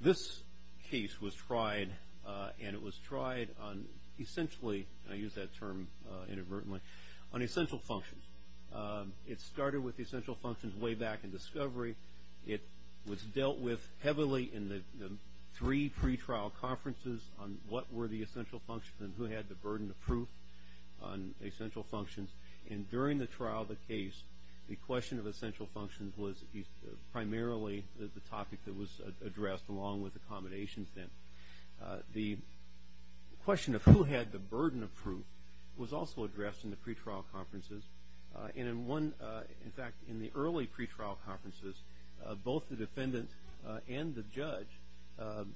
This case was tried, and it was tried on essentially, and I use that term inadvertently, on essential functions. It started with essential functions way back in discovery. It was dealt with heavily in the three pre-trial conferences on what were the essential functions and who had the burden of proof on essential functions. And during the trial of the case, the question of essential functions was primarily the topic that was addressed along with accommodations then. The question of who had the burden of proof was also addressed in the pre-trial conferences. And in one, in fact, in the early pre-trial conferences, both the defendant and the judge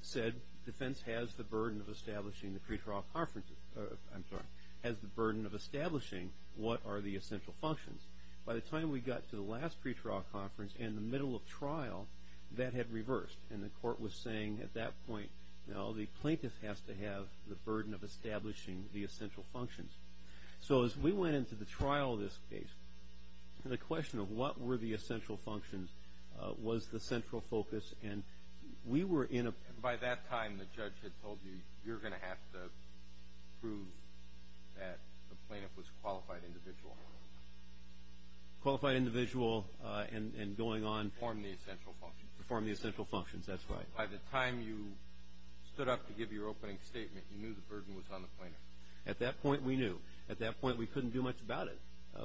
said defense has the burden of establishing the pre-trial conferences, I'm sorry, has the burden of establishing what are the essential functions. By the time we got to the last pre-trial conference in the middle of trial, that had reversed, and the court was saying at that point, no, the plaintiff has to have the burden of establishing the essential functions. So as we went into the trial of this case, the question of what were the essential functions was the central focus, and we were in a... By that time, the judge had told you, you're going to have to prove that the plaintiff was a qualified individual. Qualified individual and going on to perform the essential functions, that's right. By the time you stood up to give your opening statement, you knew the burden was on the plaintiff. At that point, we knew. At that point, we couldn't do much about it.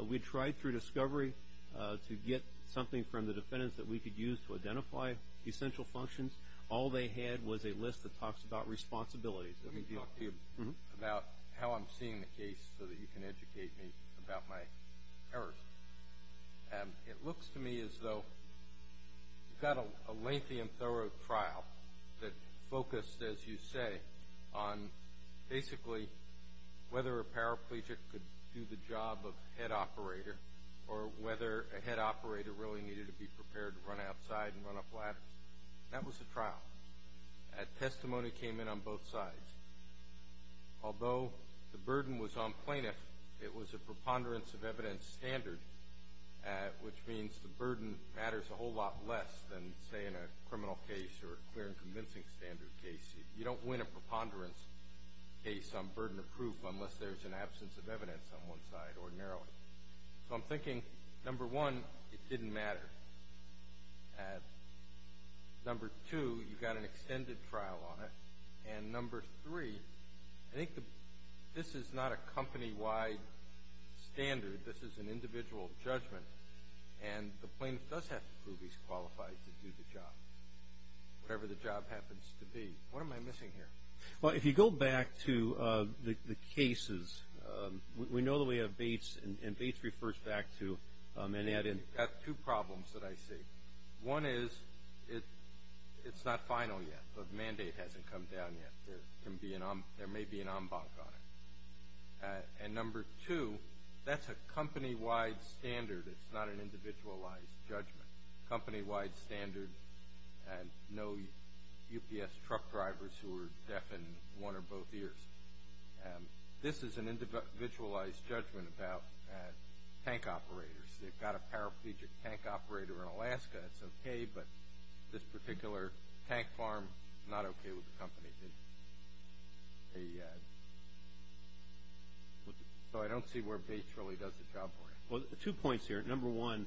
We tried through discovery to get something from the defendants that we could use to identify essential functions. All they had was a list that talks about responsibilities. Let me talk to you about how I'm seeing the case so that you can educate me about my errors. It looks to me as though you've got a lengthy and thorough trial that focused, as you say, on basically whether a paraplegic could do the job of head operator or whether a head operator really needed to be prepared to run outside and run up ladders. That was a trial. Testimony came in on both sides. Although the burden was on plaintiff, it was a preponderance of evidence standard, which means the burden matters a whole lot less than, say, in a criminal case or a clear and convincing standard case. You don't win a preponderance case on burden of proof unless there's an absence of evidence on one side ordinarily. I'm thinking, number one, it didn't matter. Number two, you've got an extended trial on it. And number three, I think this is not a company-wide standard. This is an individual judgment. And the plaintiff does have to prove he's qualified to do the job, whatever the job happens to be. What am I missing here? Well, if you go back to the cases, we know that we have Bates, and Bates refers back to, and added... You've got two problems that I see. One is, it's not final yet. The mandate hasn't come down yet. There may be an en banc on it. And number two, that's a company-wide standard. It's not an individualized judgment. Company-wide standard, no UPS truck drivers who are deaf and one or both ears. This is an individualized judgment about tank operators. They've got a paraplegic tank operator in Alaska. It's okay, but this particular tank farm, not okay with the company. So I don't see where Bates really does the job for you. Well, two points here. Number one,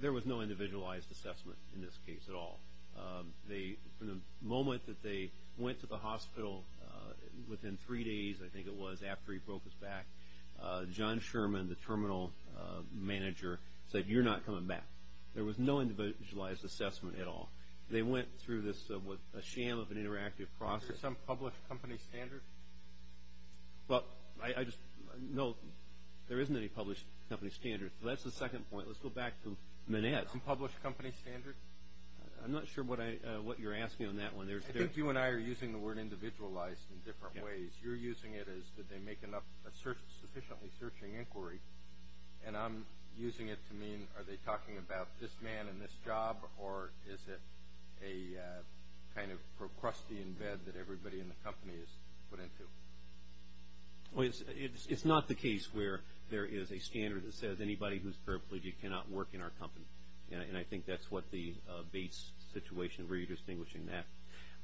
there was no individualized assessment in this case at all. From the moment that they went to the hospital, within three days, I think it was, after he broke his back, John Sherman, the terminal manager, said, you're not coming back. There was no individualized assessment at all. They went through this, what, a sham of an interactive process. Is there some published company standard? Well, I just, no, there isn't any published company standard. So that's the second point. Let's go back to Manette's. Is there some published company standard? I'm not sure what you're asking on that one. I think you and I are using the word individualized in different ways. You're using it as, did they make enough, sufficiently searching inquiry, and I'm using it to mean, are they talking about this man and this job, or is it a kind of Procrustean bed that everybody in the company is put into? Well, it's not the case where there is a standard that says anybody who's paraplegic cannot work in our company. And I think that's what the Bates situation, redistinguishing that.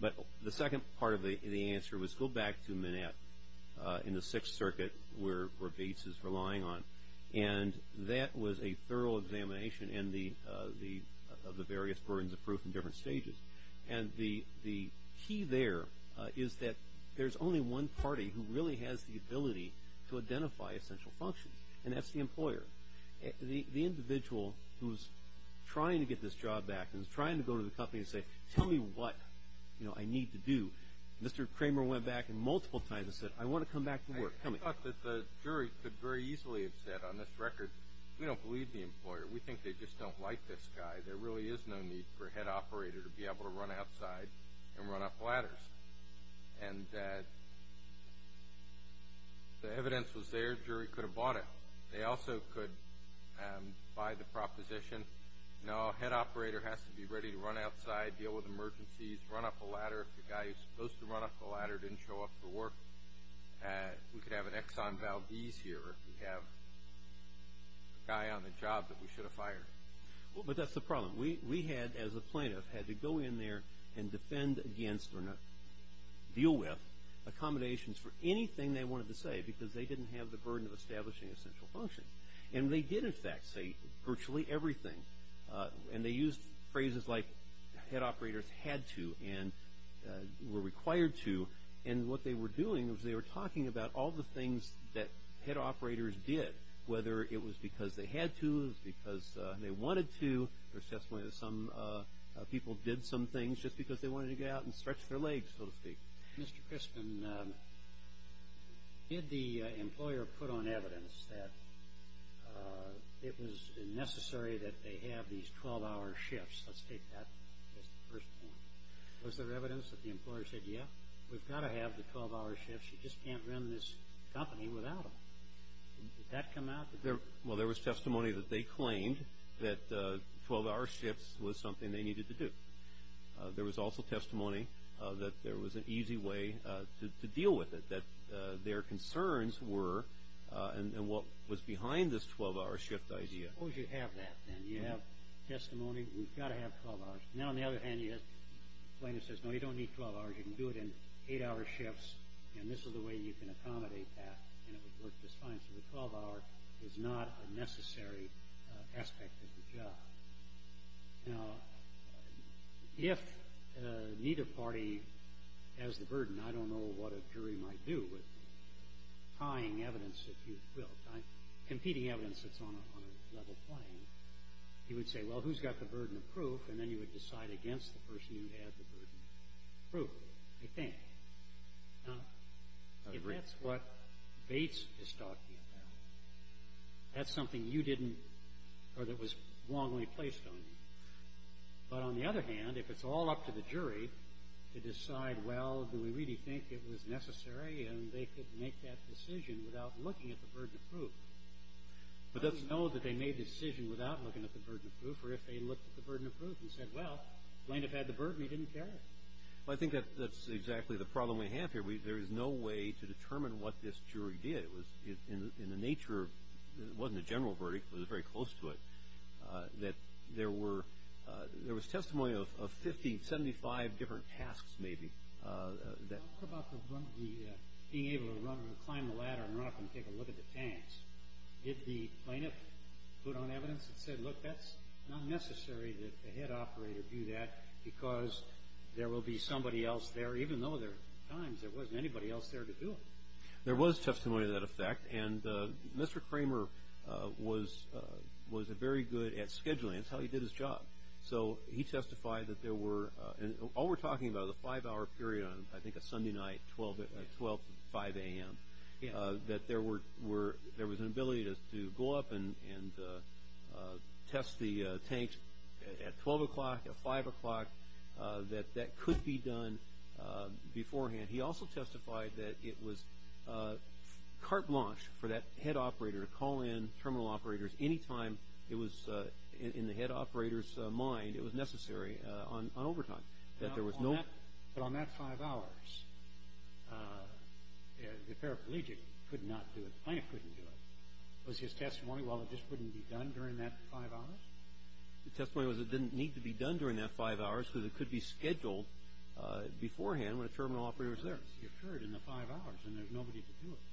But the second part of the answer was, go back to Manette in the Sixth Circuit, where Bates is relying on, and that was a thorough examination of the various burdens of proof in different stages. And the key there is that there's only one party who really has the ability to identify essential functions, and that's the employer. The individual who's trying to get this job back and is trying to go to the company and say, tell me what I need to do. Mr. Kramer went back multiple times and said, I want to come back to work. I thought that the jury could very easily have said, on this record, we don't believe the employer. We think they just don't like this guy. There really is no need for a head on the ladders. And the evidence was there. The jury could have bought it. They also could buy the proposition, no, head operator has to be ready to run outside, deal with emergencies, run up a ladder if the guy who's supposed to run up the ladder didn't show up for work. We could have an Exxon Valdez here if we have a guy on the job that we should have fired. But that's the problem. We had, as a plaintiff, had to go in there and defend against or deal with accommodations for anything they wanted to say because they didn't have the burden of establishing essential functions. And they did, in fact, say virtually everything. And they used phrases like head operators had to and were required to. And what they were doing was they were talking about all the things that head operators did, whether it was because they had to, it was because they wanted to. There's testimony that some people did some things just because they wanted to get out and stretch their legs, so to speak. Mr. Crispin, did the employer put on evidence that it was necessary that they have these 12-hour shifts? Let's take that as the first point. Was there evidence that the employer said, yeah, we've got to have the 12-hour shifts. You just can't run this company without them. Did that come out? Well, there was testimony that they claimed that 12-hour shifts was something they needed to do. There was also testimony that there was an easy way to deal with it, that their concerns were and what was behind this 12-hour shift idea. Suppose you have that, then. You have testimony, we've got to have 12 hours. Now, on the other hand, you have a plaintiff who says, no, you don't need 12 hours. You can do it in 8-hour shifts, and this is the way you can accommodate that, and it would work just fine. So the 12-hour is not a necessary aspect of the job. Now, if neither party has the burden, I don't know what a jury might do with tying evidence that you've built, competing evidence that's on a level playing. You would say, well, who's got the burden of proof? And then you would decide against the person who had the burden of proof, I think. Now, if that's what Bates is talking about, that's something you didn't or that was wrongly placed on you. But on the other hand, if it's all up to the jury to decide, well, do we really think it was necessary and they could make that decision without looking at the burden of proof, but let's know that they made the decision without looking at the burden of proof or if they looked at the burden of proof and said, well, plaintiff had the burden, he didn't care. Well, I think that's exactly the problem we have here. There is no way to determine what this jury did. It was in the nature of, it wasn't a general verdict, it was very close to it, that there were, there was testimony of 50, 75 different tasks, maybe. Talk about the being able to run and climb the ladder and run up and take a look at the tanks. Did the plaintiff put on evidence and said, look, that's not necessary that the operator do that because there will be somebody else there, even though there were times there wasn't anybody else there to do it. There was testimony to that effect and Mr. Kramer was very good at scheduling. That's how he did his job. So he testified that there were, and all we're talking about is a five hour period on, I think a Sunday night, 12 to 5 a.m., that there was an ability to go up and test the tank at 12 o'clock, at 5 o'clock, that that could be done beforehand. He also testified that it was carte blanche for that head operator to call in terminal operators any time it was in the head operator's mind it was necessary on overtime. But on that five hours, the paraplegic could not do it, the plaintiff couldn't do it. Was his testimony, well, it just wouldn't be done during that five hours? The testimony was it didn't need to be done during that five hours because it could be scheduled beforehand when a terminal operator was there. But he occurred in the five hours and there was nobody to do it.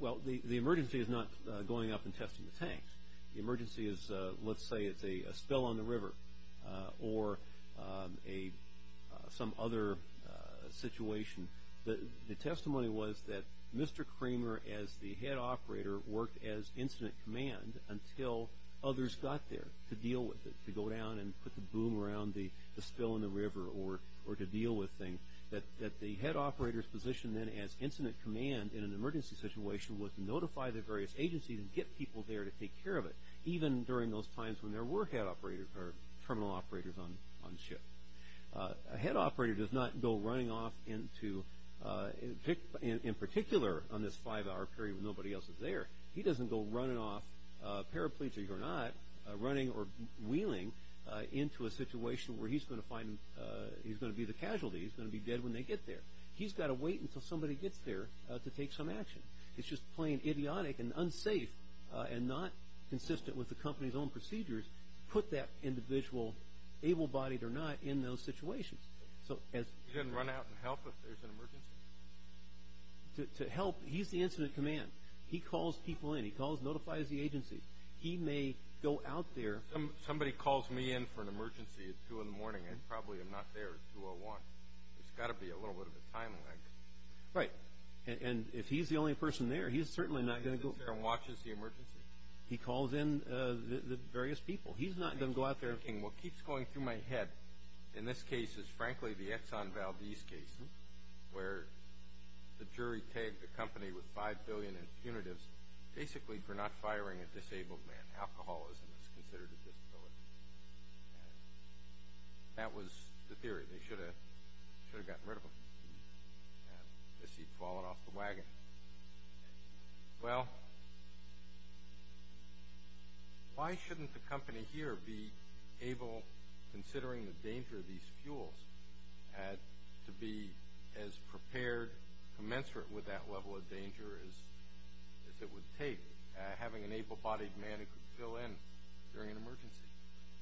Well, the emergency is not going up and testing the tanks. The emergency is, let's say it's a spill on the river or some other situation. The testimony was that Mr. Kramer as the head operator worked as incident command until others got there to deal with it, to go down and put the boom around the spill in the river or to deal with things. That the head operator's position then as incident command in an emergency situation was to notify the various agencies and get people there to take care of it, even during those times when there were head operators or terminal operators on ship. A head operator does not go running off into, in particular on this five hour period when nobody else is there, he doesn't go running off, paraplegic or not, running or wheeling into a situation where he's going to find, he's going to be the casualty, he's going to be dead when they get there. He's got to wait until somebody gets there to take some action. It's just plain idiotic and unsafe and not consistent with the company's own procedures to put that individual, able-bodied or not, in those situations. He doesn't run out and help if there's an emergency? To help, he's the incident command. He calls people in. He calls and notifies the agency. He may go out there. Somebody calls me in for an emergency at two in the morning and probably I'm not there at 201. There's got to be a little bit of a time lag. Right. And if he's the only person there, he's certainly not going to go. He's there and watches the emergency? He calls in the various people. He's not going to go out there. I keep thinking, what keeps going through my head in this case is frankly the Exxon Valdez case where the jury tagged the company with five billion in punitives basically for not firing a disabled man. Alcoholism is considered a disability. That was the theory. They should have gotten rid of him. I guess he'd fallen off the wagon. Well, why shouldn't the company here be able, considering the danger of these fuels, to be as prepared, commensurate with that level of danger as it would take, having an able-bodied man who could fill in during an emergency?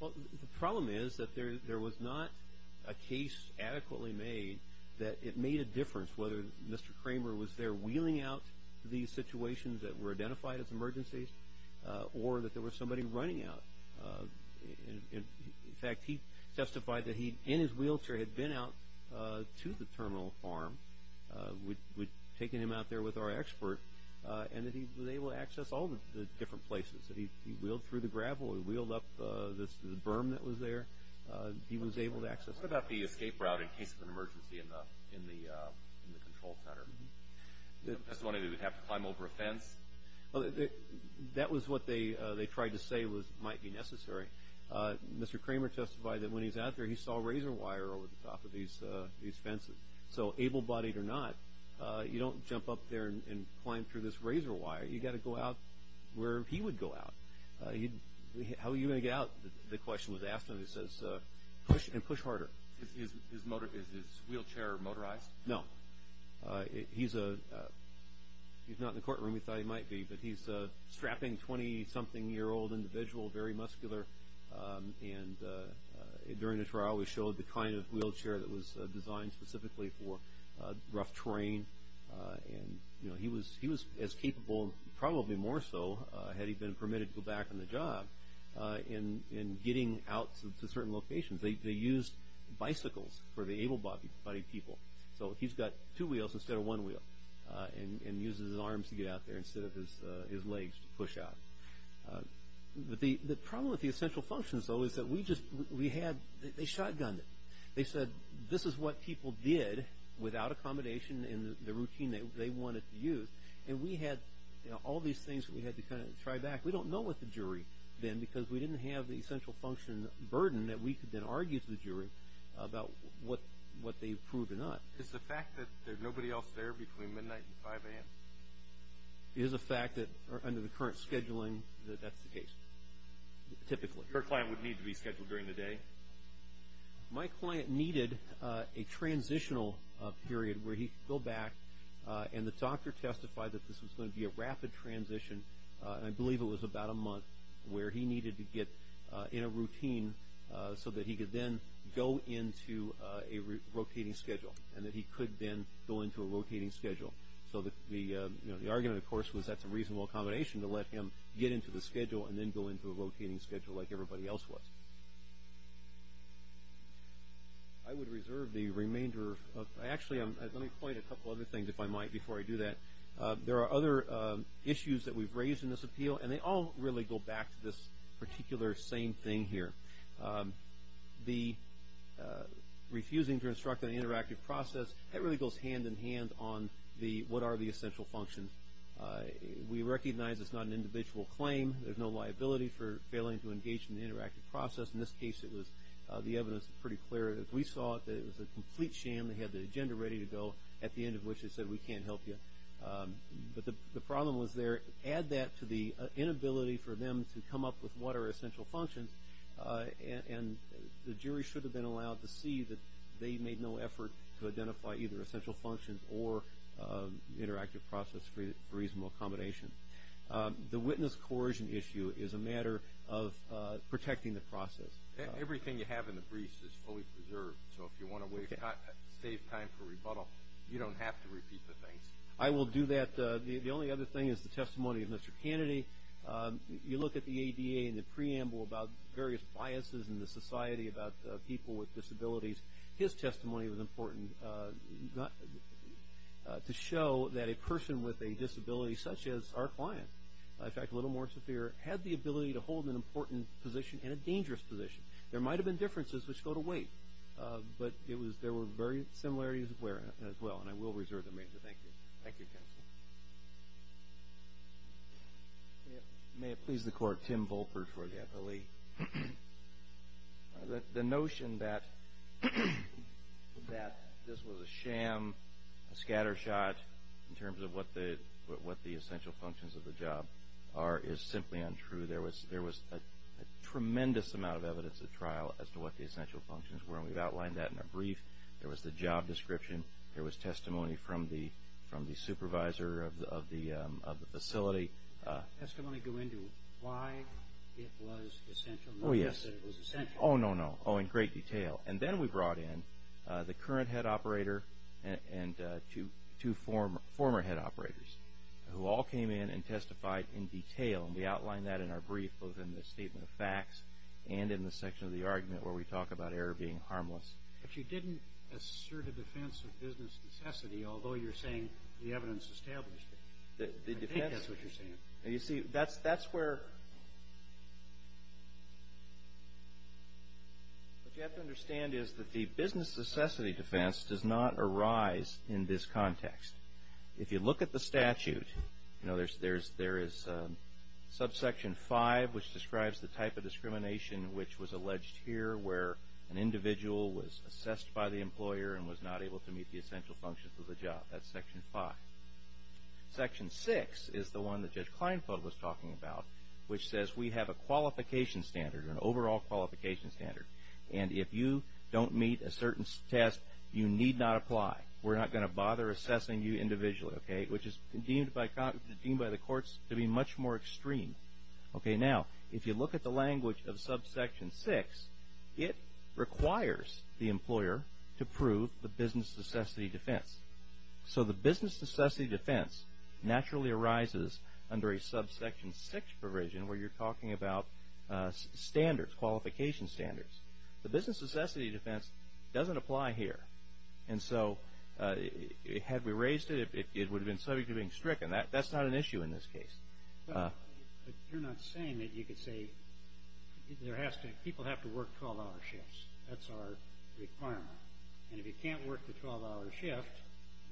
Well, the problem is that there was not a case adequately made that it made a difference whether Mr. Kramer was there wheeling out these situations that were identified as emergencies or that there was somebody running out. In fact, he testified that he, in his wheelchair, had been out to the terminal farm, taking him out there with our expert, and that he was able to access all the different places. He wheeled through the gravel. He wheeled up the berm that was there. He was able to access it. What about the escape route in case of an emergency in the control center? That's the one where he would have to climb over a fence? That was what they tried to say might be necessary. Mr. Kramer testified that when he was out there, he saw razor wire over the top of these fences. So able-bodied or not, you don't jump up there and climb through this razor wire. You've got to go out where he would go out. How are you going to get out, the question was asked to him. He says, push and push harder. Is his wheelchair motorized? No. He's not in the courtroom. He thought he might be. But he's a strapping 20-something-year-old individual, very muscular. During the trial, we showed the kind of wheelchair that was designed specifically for rough terrain. He was as capable, probably more so, had he been permitted to go back on the job, in getting out to certain locations. They used bicycles for the able-bodied people. So he's got two wheels instead of one wheel, and uses his arms to get out there instead of his legs to push out. The problem with the essential functions, though, is that we just, we had, they shotgunned it. They said, this is what people did without accommodation in the routine they wanted to use. And we had all these things that we had to kind of try back. We don't know what the jury then, because we didn't have the essential function burden that we could then argue to the jury about what they proved or not. Is the fact that there's nobody else there between midnight and 5 a.m.? It is a fact that, under the current scheduling, that that's the case, typically. Your client would need to be scheduled during the day? My client needed a transitional period where he could go back, and the doctor testified that this was going to be a rapid transition, and I believe it was about a month, where he needed to get in a routine so that he could then go into a rotating schedule, and that he could then go into a rotating schedule. So the argument, of course, was that's a reasonable accommodation to let him get into the schedule and then go into a rotating schedule like everybody else was. I would reserve the remainder of, actually, let me point a couple other things, if I might, before I do that. There are other issues that we've raised in this appeal, and they all really go back to this particular same thing here. The refusing to instruct on the interactive process, that really goes hand-in-hand on what are the essential functions. We recognize it's not an individual claim. There's no liability for failing to engage in the interactive process. In this case, the evidence was pretty clear. We saw that it was a complete sham. They had the agenda ready to go, at the end of which they said, we can't help you. But the problem was there. Add that to the inability for them to come up with what are essential functions, and the jury should have been allowed to see that they made no effort to identify either essential functions or interactive process for reasonable accommodation. The witness coercion issue is a matter of protecting the process. Everything you have in the briefs is fully preserved. So if you want to save time for rebuttal, you don't have to repeat the things. I will do that. The only other thing is the testimony of Mr. Kennedy. You look at the ADA and the preamble about various biases in the society about people with disabilities. His testimony was important to show that a person with a disability such as our client, in fact a little more severe, had the ability to hold an important position and a dangerous position. There might have been differences which go to weight, but there were very similarities as well. And I will reserve the remainder. Thank you. Thank you, counsel. May it please the Court. Tim Volper for the FLE. The notion that this was a sham, a scattershot in terms of what the essential functions of the job are is simply untrue. There was a tremendous amount of evidence at trial as to what the essential functions were, and we've outlined that in a brief. There was the job description. There was testimony from the supervisor of the facility. Did the testimony go into why it was essential? Oh, yes. Oh, no, no. Oh, in great detail. And then we brought in the current head operator and two former head operators, who all came in and testified in detail, and we outlined that in our brief both in the statement of facts and in the section of the argument where we talk about error being harmless. But you didn't assert a defense of business necessity, although you're saying the evidence established it. I think that's what you're saying. You see, that's where what you have to understand is that the business necessity defense does not arise in this context. If you look at the statute, you know, there is subsection 5, which describes the type of discrimination which was alleged here where an individual was assessed by the employer and was not able to meet the essential functions of the job. That's section 5. Section 6 is the one that Judge Kleinfeld was talking about, which says we have a qualification standard, an overall qualification standard, and if you don't meet a certain test, you need not apply. We're not going to bother assessing you individually, okay, which is deemed by the courts to be much more extreme. Okay, now, if you look at the language of subsection 6, it requires the employer to prove the business necessity defense. So, the business necessity defense naturally arises under a subsection 6 provision where you're talking about standards, qualification standards. The business necessity defense doesn't apply here. And so, had we raised it, it would have been subject to being stricken. That's not an issue in this case. But you're not saying that you could say people have to work 12-hour shifts. That's our requirement. And if you can't work the 12-hour shift,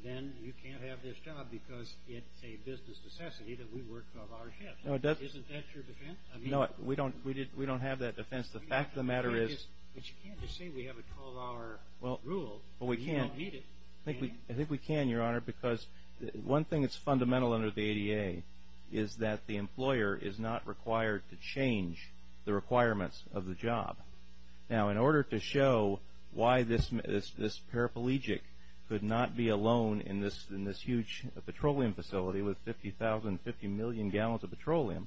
then you can't have this job because it's a business necessity that we work 12-hour shifts. Isn't that your defense? No, we don't have that defense. The fact of the matter is— But you can't just say we have a 12-hour rule. Well, we can. We don't need it. I think we can, Your Honor, because one thing that's fundamental under the ADA is that the employer is not required to change the requirements of the job. Now, in order to show why this paraplegic could not be alone in this huge petroleum facility with 50,000, 50 million gallons of petroleum,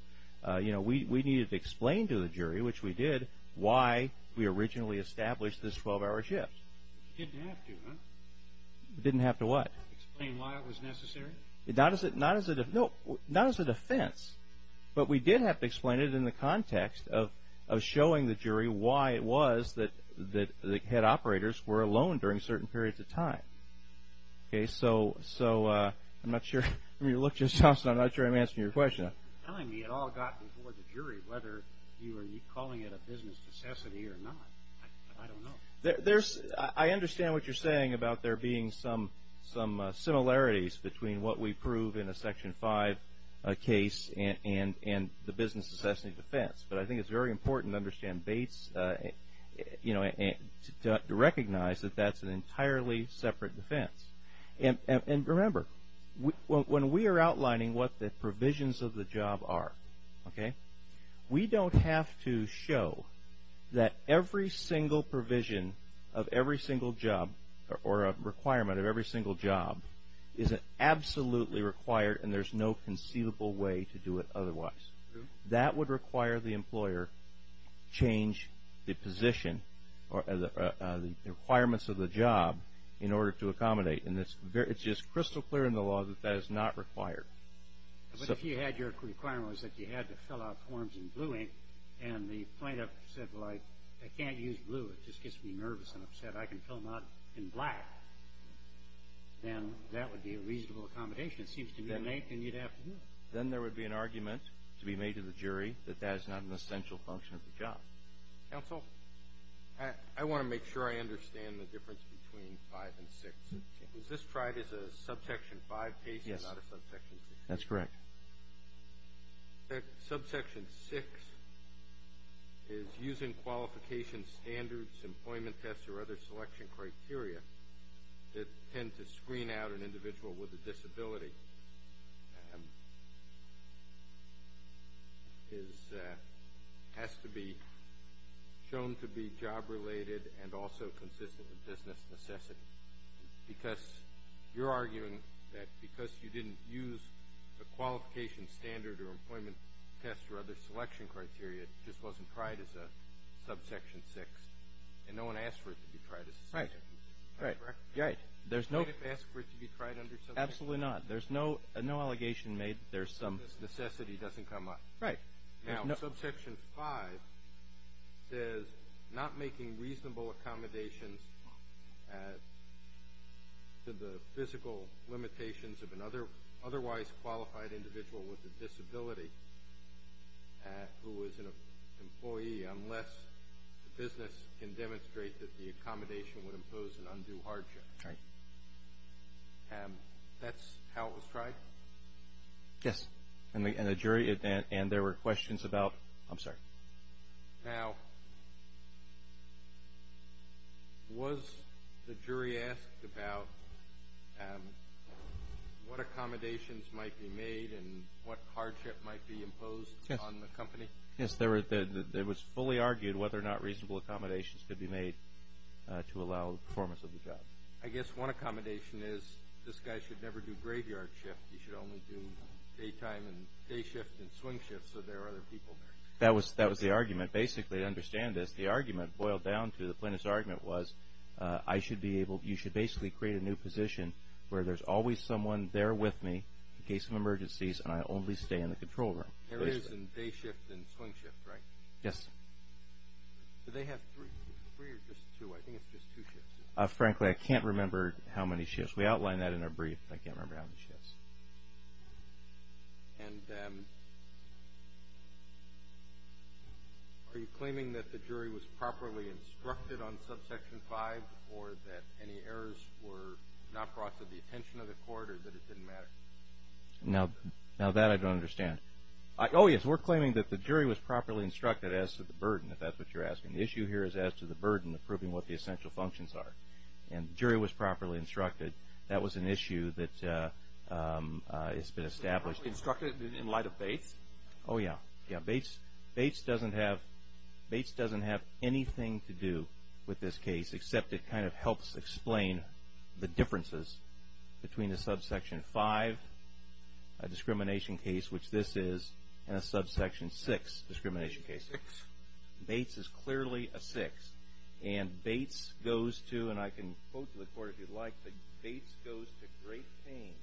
we needed to explain to the jury, which we did, why we originally established this 12-hour shift. Didn't have to, huh? Explain why it was necessary? Not as a defense. But we did have to explain it in the context of showing the jury why it was that the head operators were alone during certain periods of time. Okay, so I'm not sure. I mean, you look at yourself, so I'm not sure I'm answering your question. You're telling me it all got before the jury, whether you are calling it a business necessity or not. I don't know. I understand what you're saying about there being some similarities between what we prove in a Section 5 case and the business necessity defense. But I think it's very important to understand Bates to recognize that that's an entirely separate defense. And remember, when we are outlining what the provisions of the job are, okay, we don't have to show that every single provision of every single job or a requirement of every single job is absolutely required and there's no conceivable way to do it otherwise. That would require the employer change the position or the requirements of the job in order to accommodate. And it's just crystal clear in the law that that is not required. But if you had your requirements that you had to fill out forms in blue ink and the plaintiff said, well, I can't use blue. It just gets me nervous and upset. I can fill them out in black, then that would be a reasonable accommodation, it seems to me, to make and you'd have to do it. Then there would be an argument to be made to the jury that that is not an essential function of the job. Counsel, I want to make sure I understand the difference between 5 and 6. Is this tried as a subsection 5 case and not a subsection 6? Yes, that's correct. Subsection 6 is using qualification standards, employment tests, or other selection criteria that tend to screen out an individual with a disability. Subsection 6 has to be shown to be job-related and also consistent with business necessity. Because you're arguing that because you didn't use a qualification standard or employment test or other selection criteria, it just wasn't tried as a subsection 6, and no one asked for it to be tried as a subsection 6. Right, right. Did the plaintiff ask for it to be tried under subsection 6? Absolutely not. There's no allegation made that there's some... Necessity doesn't come up. Right. Now, subsection 5 says not making reasonable accommodations to the physical limitations of an otherwise qualified individual with a disability who is an employee unless the business can demonstrate that the accommodation would impose an undue hardship. Right. That's how it was tried? Yes. And the jury... And there were questions about... I'm sorry. Now, was the jury asked about what accommodations might be made and what hardship might be imposed on the company? Yes. It was fully argued whether or not reasonable accommodations could be made to allow the performance of the job. I guess one accommodation is this guy should never do graveyard shift. He should only do daytime and day shift and swing shift so there are other people there. That was the argument. Basically, to understand this, the argument boiled down to, the plaintiff's argument was you should basically create a new position where there's always someone there with me in case of emergencies and I only stay in the control room. There is a day shift and swing shift, right? Yes. Do they have three or just two? I think it's just two shifts. Frankly, I can't remember how many shifts. We outlined that in our brief. I can't remember how many shifts. And are you claiming that the jury was properly instructed on subsection 5 or that any errors were not brought to the attention of the court or that it didn't matter? Now, that I don't understand. Oh, yes. We're claiming that the jury was properly instructed as to the burden, if that's what you're asking. The issue here is as to the burden of proving what the essential functions are. And the jury was properly instructed. That was an issue that has been established. Instructed in light of Bates? Oh, yes. Bates doesn't have anything to do with this case except it kind of helps explain the differences between a subsection 5 discrimination case, which this is, and a subsection 6 discrimination case. Bates is clearly a 6. And Bates goes to, and I can quote to the court if you'd like, Bates goes to great pains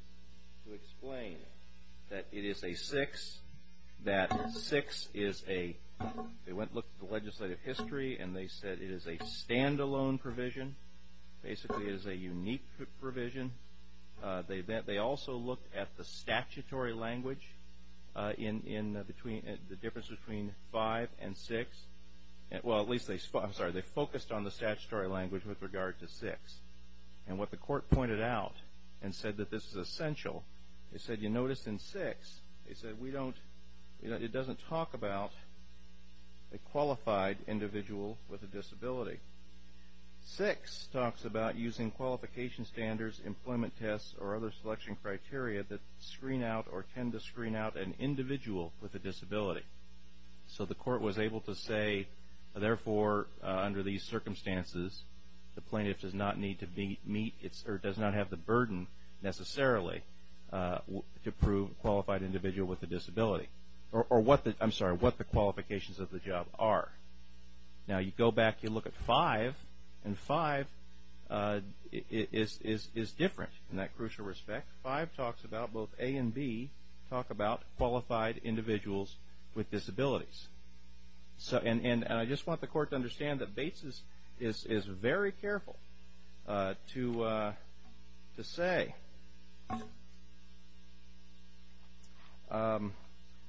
to explain that it is a 6, that 6 is a, they went and looked at the legislative history and they said it is a standalone provision. Basically, it is a unique provision. They also looked at the statutory language in between, the difference between 5 and 6. Well, at least they, I'm sorry, they focused on the statutory language with regard to 6. And what the court pointed out and said that this is essential, they said you notice in 6 they said we don't, it doesn't talk about a qualified individual with a disability. 6 talks about using qualification standards, employment tests, or other selection criteria that screen out or tend to screen out an individual with a disability. So the court was able to say, therefore, under these circumstances, the plaintiff does not need to meet, or does not have the burden necessarily to prove qualified individual with a disability, or what the, I'm sorry, what the qualifications of the job are. Now, you go back, you look at 5, and 5 is different in that crucial respect. 5 talks about both A and B, talk about qualified individuals with disabilities. And I just want the court to understand that Bates is very careful to say.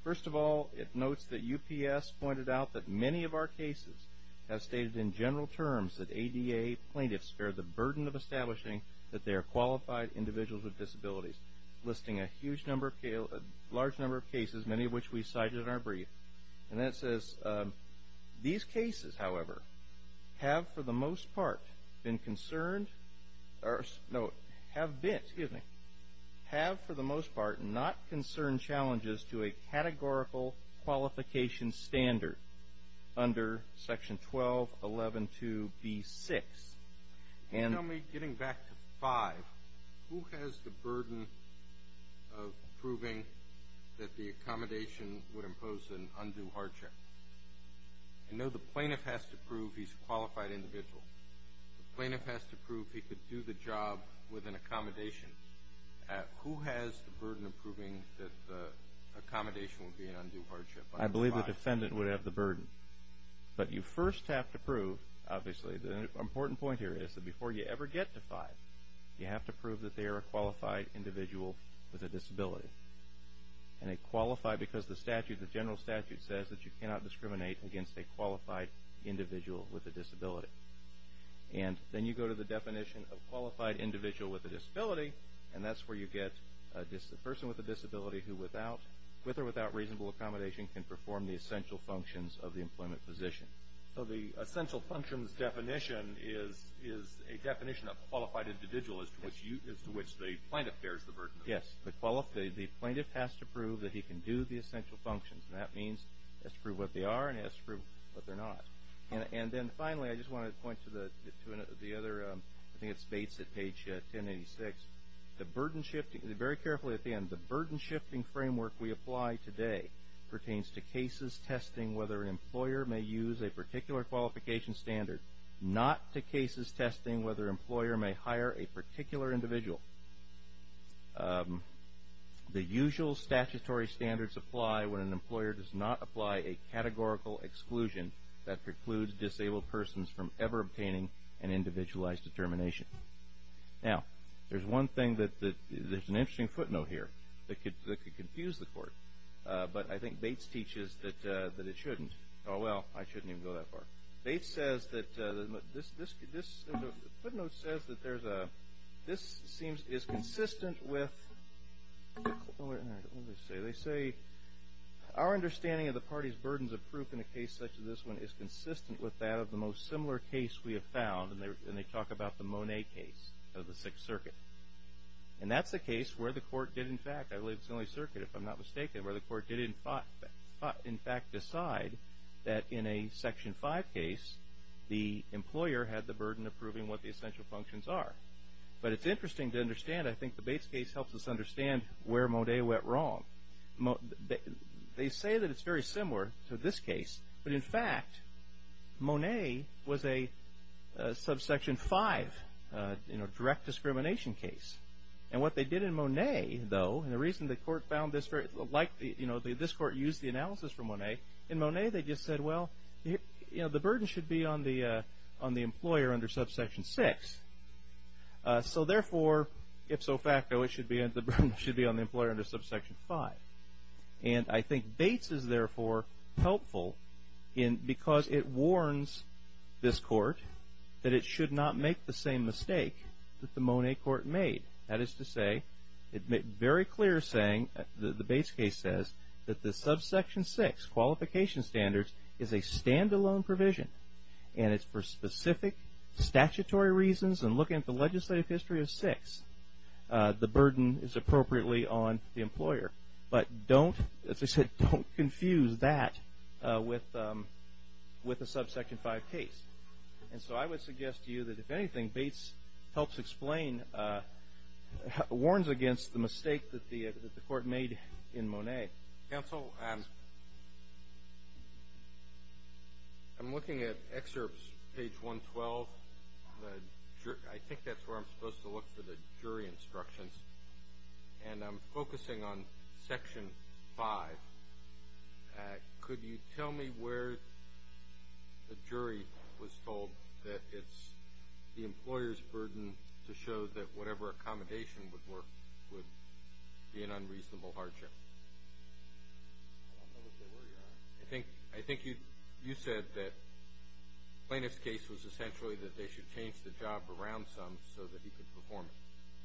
First of all, it notes that UPS pointed out that many of our cases have stated in general terms that ADA plaintiffs bear the burden of establishing that they are qualified individuals with disabilities, listing a huge number of, a large number of cases, many of which we cited in our brief. And that says these cases, however, have for the most part been concerned, or no, have been, excuse me, have for the most part not concerned to a categorical qualification standard under Section 12.11.2.B.6. Can you tell me, getting back to 5, who has the burden of proving that the accommodation would impose an undue hardship? I know the plaintiff has to prove he's a qualified individual. The plaintiff has to prove he could do the job with an accommodation. Who has the burden of proving that the accommodation would be an undue hardship? I believe the defendant would have the burden. But you first have to prove, obviously, the important point here is that before you ever get to 5, you have to prove that they are a qualified individual with a disability. And they qualify because the statute, the general statute, says that you cannot discriminate against a qualified individual with a disability. And then you go to the definition of qualified individual with a disability, and that's where you get a person with a disability who, with or without reasonable accommodation, can perform the essential functions of the employment position. So the essential functions definition is a definition of qualified individual as to which the plaintiff bears the burden? Yes. The plaintiff has to prove that he can do the essential functions. And that means he has to prove what they are and he has to prove what they're not. And then, finally, I just want to point to the other, I think it's Bates at page 1086. The burden shifting, very carefully at the end, the burden shifting framework we apply today pertains to cases testing whether an employer may use a particular qualification standard, not to cases testing whether an employer may hire a particular individual. The usual statutory standards apply when an employer does not apply a categorical exclusion that precludes disabled persons from ever obtaining an individualized determination. Now, there's one thing that, there's an interesting footnote here that could confuse the court, but I think Bates teaches that it shouldn't. Oh, well, I shouldn't even go that far. Bates says that, this footnote says that there's a, this seems, is consistent with, what did they say? They say, our understanding of the party's burdens of proof in a case such as this one is consistent with that of the most similar case we have found, and they talk about the Monet case of the Sixth Circuit. And that's a case where the court did, in fact, I believe it's the only circuit, if I'm not mistaken, where the court did in fact decide that in a Section 5 case, the employer had the burden of proving what the essential functions are. But it's interesting to understand, I think the Bates case helps us understand where Monet went wrong. They say that it's very similar to this case, but in fact, Monet was a Subsection 5, you know, direct discrimination case. And what they did in Monet, though, and the reason the court found this very, like, you know, this court used the analysis from Monet, in Monet they just said, well, you know, the burden should be on the employer under Subsection 6. So, therefore, ipso facto, the burden should be on the employer under Subsection 5. And I think Bates is, therefore, helpful because it warns this court that it should not make the same mistake that the Monet court made. That is to say, it made very clear saying, the Bates case says, that the Subsection 6 qualification standards is a standalone provision, and it's for specific statutory reasons. And looking at the legislative history of 6, the burden is appropriately on the employer. But don't, as I said, don't confuse that with a Subsection 5 case. And so I would suggest to you that, if anything, Bates helps explain, warns against the mistake that the court made in Monet. Okay. Counsel, I'm looking at excerpts, page 112. I think that's where I'm supposed to look for the jury instructions. And I'm focusing on Section 5. Could you tell me where the jury was told that it's the employer's burden to show that whatever accommodation would work would be an unreasonable hardship? I don't know what they were, Your Honor. I think you said that Plaintiff's case was essentially that they should change the job around some so that he could perform it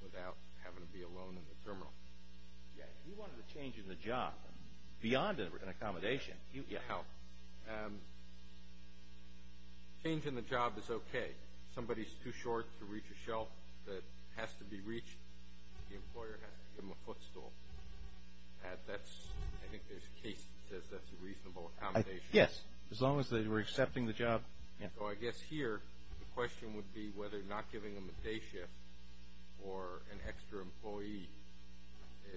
without having to be alone in the terminal. Yeah, he wanted a change in the job beyond an accommodation. Yeah. Change in the job is okay. Somebody's too short to reach a shelf that has to be reached. The employer has to give them a footstool. I think there's a case that says that's a reasonable accommodation. Yes, as long as they were accepting the job. So I guess here the question would be whether not giving them a day shift or an extra employee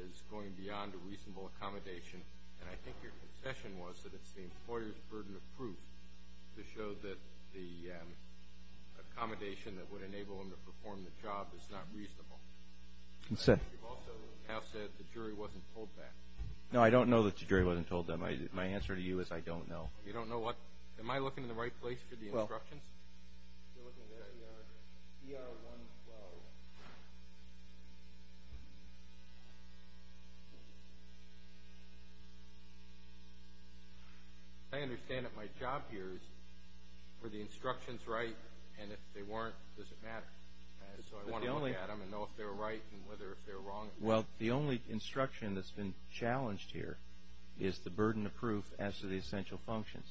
is going beyond a reasonable accommodation. And I think your concession was that it's the employer's burden of proof to show that the accommodation that would enable them to perform the job is not reasonable. You also have said the jury wasn't told that. No, I don't know that the jury wasn't told that. My answer to you is I don't know. You don't know what? Am I looking in the right place for the instructions? You're looking in the right yard. ER 112. I understand that my job here is for the instructions, right? And if they weren't, does it matter? So I want to look at them and know if they're right and whether if they're wrong. Well, the only instruction that's been challenged here is the burden of proof as to the essential functions.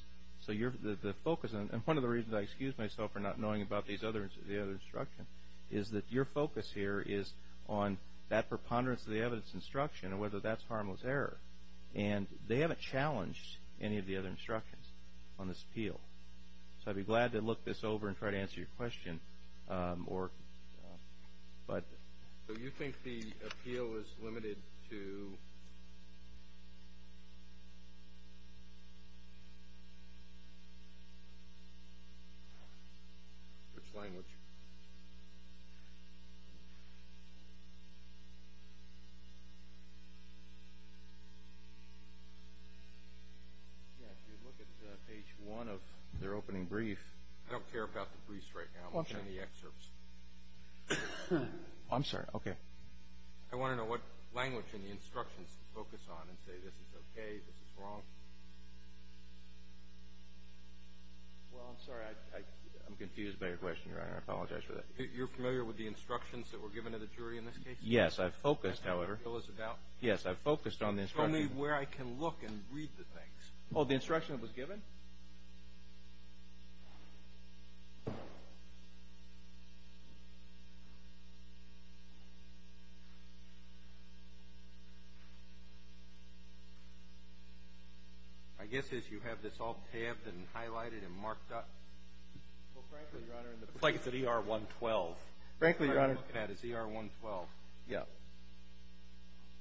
So one of the reasons I excuse myself for not knowing about the other instructions is that your focus here is on that preponderance of the evidence instruction and whether that's harmless error. And they haven't challenged any of the other instructions on this appeal. So I'd be glad to look this over and try to answer your question. So you think the appeal is limited to which language? Yeah, if you look at page 1 of their opening brief. I don't care about the briefs right now. I'm looking at the excerpts. I'm sorry. Okay. I want to know what language in the instructions to focus on and say this is okay, this is wrong. Well, I'm sorry. I'm confused by your question, Your Honor. I apologize for that. You're familiar with the instructions that were given to the jury in this case? Yes. I've focused, however. Yes. I've focused on the instructions. Show me where I can look and read the things. Oh, the instruction that was given? My guess is you have this all tabbed and highlighted and marked up. Well, frankly, Your Honor. It looks like it's an ER-112. Frankly, Your Honor. It's an ER-112. Yeah.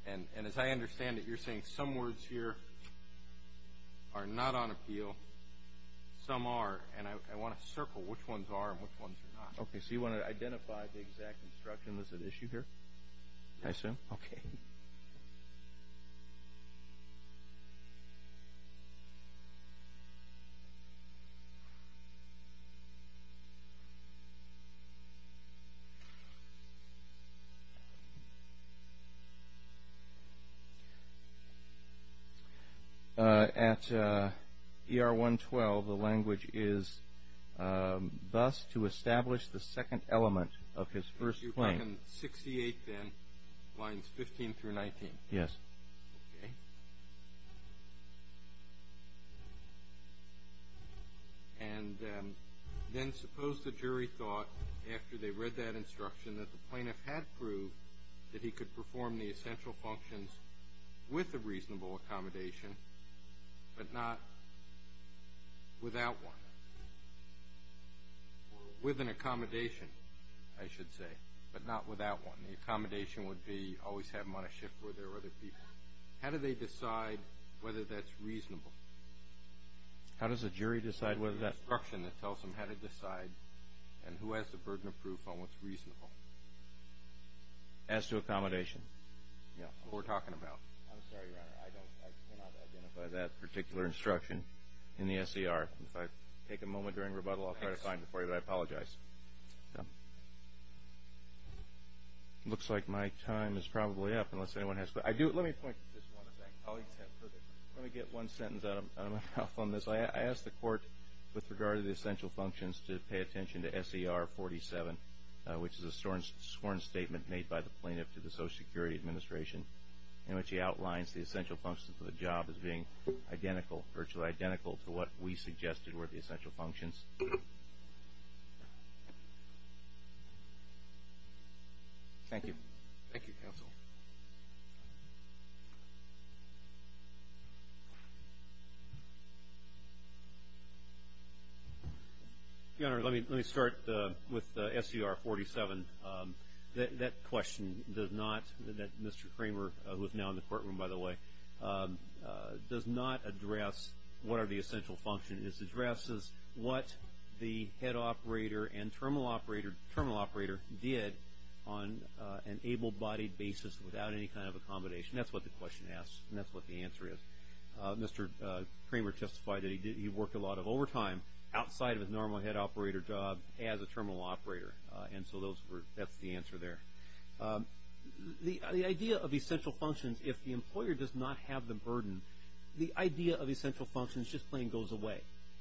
And as I understand it, you're saying some words here are not on appeal, some are, and I want to circle which ones are and which ones are not. Okay. So you want to identify the exact instruction that's at issue here? I assume. Okay. At ER-112, the language is thus to establish the second element of his first claim. So you're talking 68 then, lines 15 through 19? Yes. Okay. And then suppose the jury thought, after they read that instruction, that the plaintiff had proved that he could perform the essential functions with a reasonable accommodation but not without one. With an accommodation, I should say, but not without one. The accommodation would be always have him on a shift where there are other people. How do they decide whether that's reasonable? How does a jury decide whether that's reasonable? There's an instruction that tells them how to decide and who has the burden of proof on what's reasonable. As to accommodation? Yeah. What we're talking about. I'm sorry, Your Honor. I cannot identify that particular instruction in the SER. If I take a moment during rebuttal, I'll try to find it for you, but I apologize. It looks like my time is probably up unless anyone has questions. Let me point to this one. Let me get one sentence out of my mouth on this. I asked the court with regard to the essential functions to pay attention to SER-47, which is a sworn statement made by the plaintiff to the Social Security Administration in which he outlines the essential functions of the job as being identical, virtually identical to what we suggested were the essential functions. Thank you. Thank you, counsel. Your Honor, let me start with SER-47. That question does not, that Mr. Kramer, who is now in the courtroom, by the way, does not address what are the essential functions. It addresses what the head operator and terminal operator did on an able-bodied basis without any kind of accommodation. That's what the question asks, and that's what the answer is. Mr. Kramer testified that he worked a lot of overtime outside of his normal head operator job as a terminal operator, and so that's the answer there. The idea of essential functions, if the employer does not have the burden, the idea of essential functions just plain goes away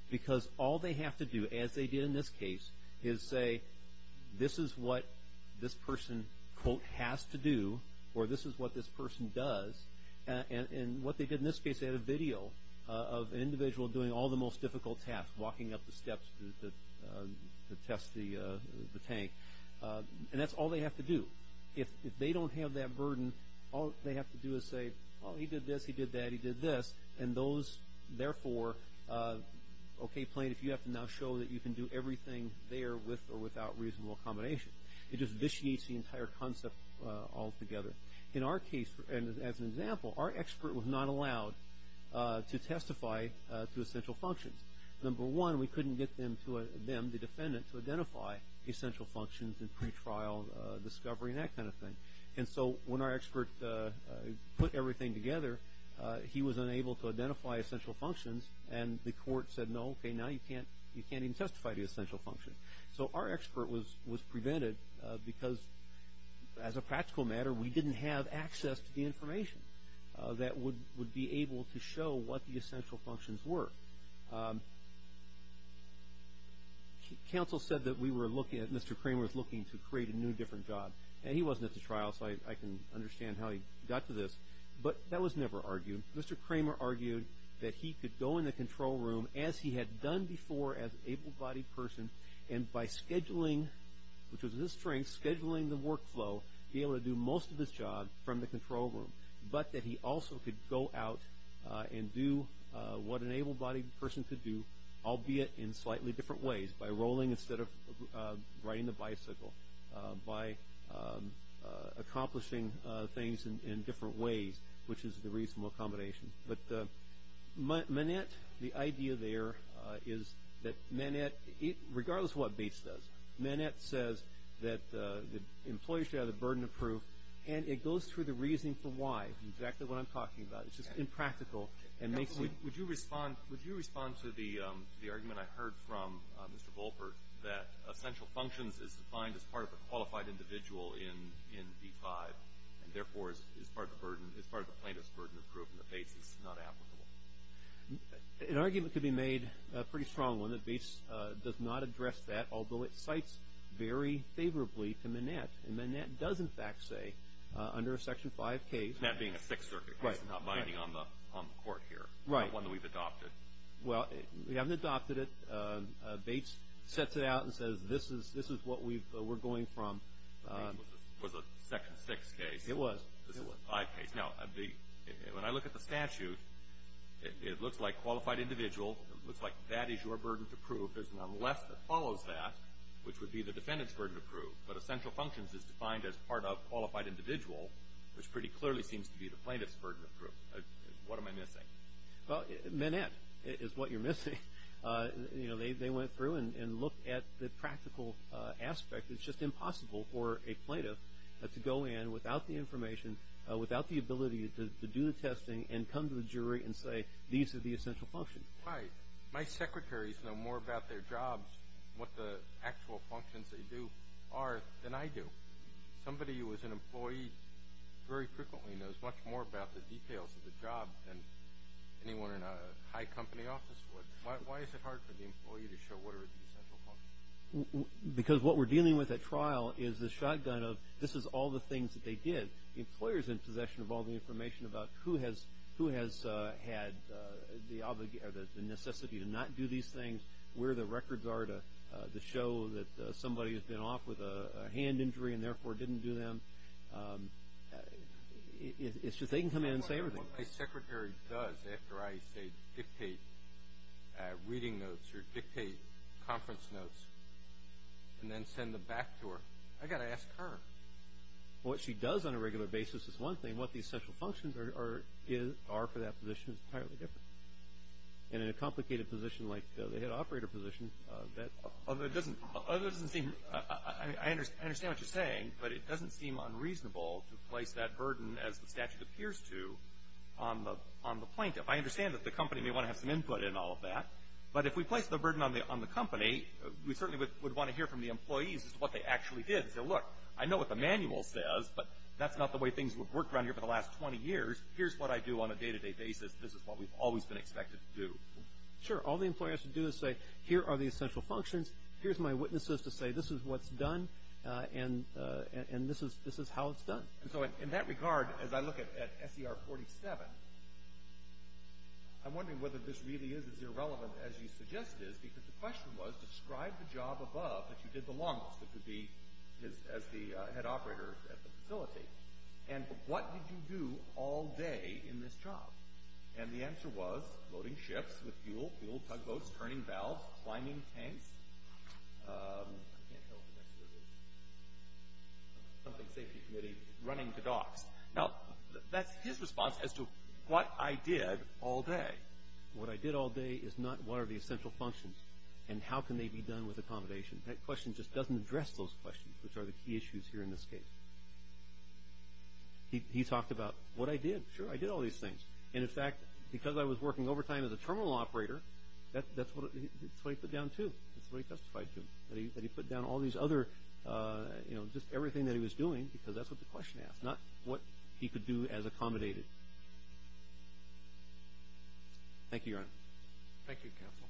because all they have to do, as they did in this case, is say this is what this person, quote, has to do or this is what this person does. And what they did in this case, they had a video of an individual doing all the most difficult tasks, walking up the steps to test the tank, and that's all they have to do. If they don't have that burden, all they have to do is say, oh, he did this, he did that, he did this, and those, therefore, okay, plain, if you have to now show that you can do everything there with or without reasonable accommodation. It just vitiates the entire concept altogether. In our case, and as an example, our expert was not allowed to testify to essential functions. Number one, we couldn't get them, the defendant, to identify essential functions in pretrial discovery and that kind of thing. And so when our expert put everything together, he was unable to identify essential functions, and the court said, no, okay, now you can't even testify to essential functions. So our expert was prevented because, as a practical matter, we didn't have access to the information that would be able to show what the essential functions were. Counsel said that we were looking at, Mr. Kramer was looking to create a new different job, and he wasn't at the trial, so I can understand how he got to this, but that was never argued. Mr. Kramer argued that he could go in the control room, as he had done before as an able-bodied person, and by scheduling, which was his strength, scheduling the workflow, be able to do most of his job from the control room, but that he also could go out and do what an able-bodied person could do, albeit in slightly different ways, by rolling instead of riding the bicycle, by accomplishing things in different ways, which is the reasonable accommodation. But Manette, the idea there is that Manette, regardless of what Bates does, Manette says that the employers should have the burden of proof, and it goes through the reasoning for why, exactly what I'm talking about. It's just impractical and makes it – Would you respond to the argument I heard from Mr. Volper, that essential functions is defined as part of a qualified individual in D-5, and therefore is part of the plaintiff's burden of proof, and that Bates is not applicable? An argument could be made, a pretty strong one, that Bates does not address that, although it cites very favorably to Manette. And Manette does, in fact, say, under a Section 5 case – That being a Sixth Circuit case and not binding on the court here. Right. Not one that we've adopted. Well, we haven't adopted it. Bates sets it out and says, this is what we're going from. It was a Section 6 case. It was. This is a 5 case. Now, when I look at the statute, it looks like qualified individual, it looks like that is your burden of proof. There's none left that follows that, which would be the defendant's burden of proof. But essential functions is defined as part of qualified individual, which pretty clearly seems to be the plaintiff's burden of proof. What am I missing? Well, Manette is what you're missing. You know, they went through and looked at the practical aspect. It's just impossible for a plaintiff to go in without the information, without the ability to do the testing and come to the jury and say these are the essential functions. Right. My secretaries know more about their jobs, what the actual functions they do are, than I do. Somebody who is an employee very frequently knows much more about the details of the job than anyone in a high company office would. Why is it hard for the employee to show what are the essential functions? Because what we're dealing with at trial is the shotgun of this is all the things that they did. The employer's in possession of all the information about who has had the necessity to not do these things, where the records are to show that somebody has been off with a hand injury and therefore didn't do them. It's just they can come in and say everything. What my secretary does after I dictate reading notes or dictate conference notes and then send them back to her, I've got to ask her. What she does on a regular basis is one thing. What the essential functions are for that position is entirely different. And in a complicated position like the head operator position, that doesn't seem – I understand what you're saying, but it doesn't seem unreasonable to place that burden, as the statute appears to, on the plaintiff. I understand that the company may want to have some input in all of that, but if we place the burden on the company, we certainly would want to hear from the employees as to what they actually did and say, look, I know what the manual says, but that's not the way things have worked around here for the last 20 years. Here's what I do on a day-to-day basis. This is what we've always been expected to do. Sure. All the employer has to do is say, here are the essential functions. Here's my witnesses to say this is what's done, and this is how it's done. And so in that regard, as I look at SER 47, I'm wondering whether this really is as irrelevant as you suggest it is, because the question was, describe the job above that you did the longest. It would be as the head operator at the facility. And what did you do all day in this job? And the answer was loading ships with fuel, fuel tugboats, turning valves, climbing tanks. I can't tell if the next word is something safety committee, running to docks. Now, that's his response as to what I did all day. What I did all day is not what are the essential functions and how can they be done with accommodation. That question just doesn't address those questions, which are the key issues here in this case. He talked about what I did. Sure, I did all these things. And, in fact, because I was working overtime as a terminal operator, that's what he put down too. That's what he testified to, that he put down all these other, you know, just everything that he was doing because that's what the question asked, Thank you, Your Honor. Thank you, Counsel.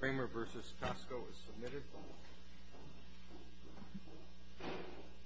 Kramer v. Pascoe is submitted.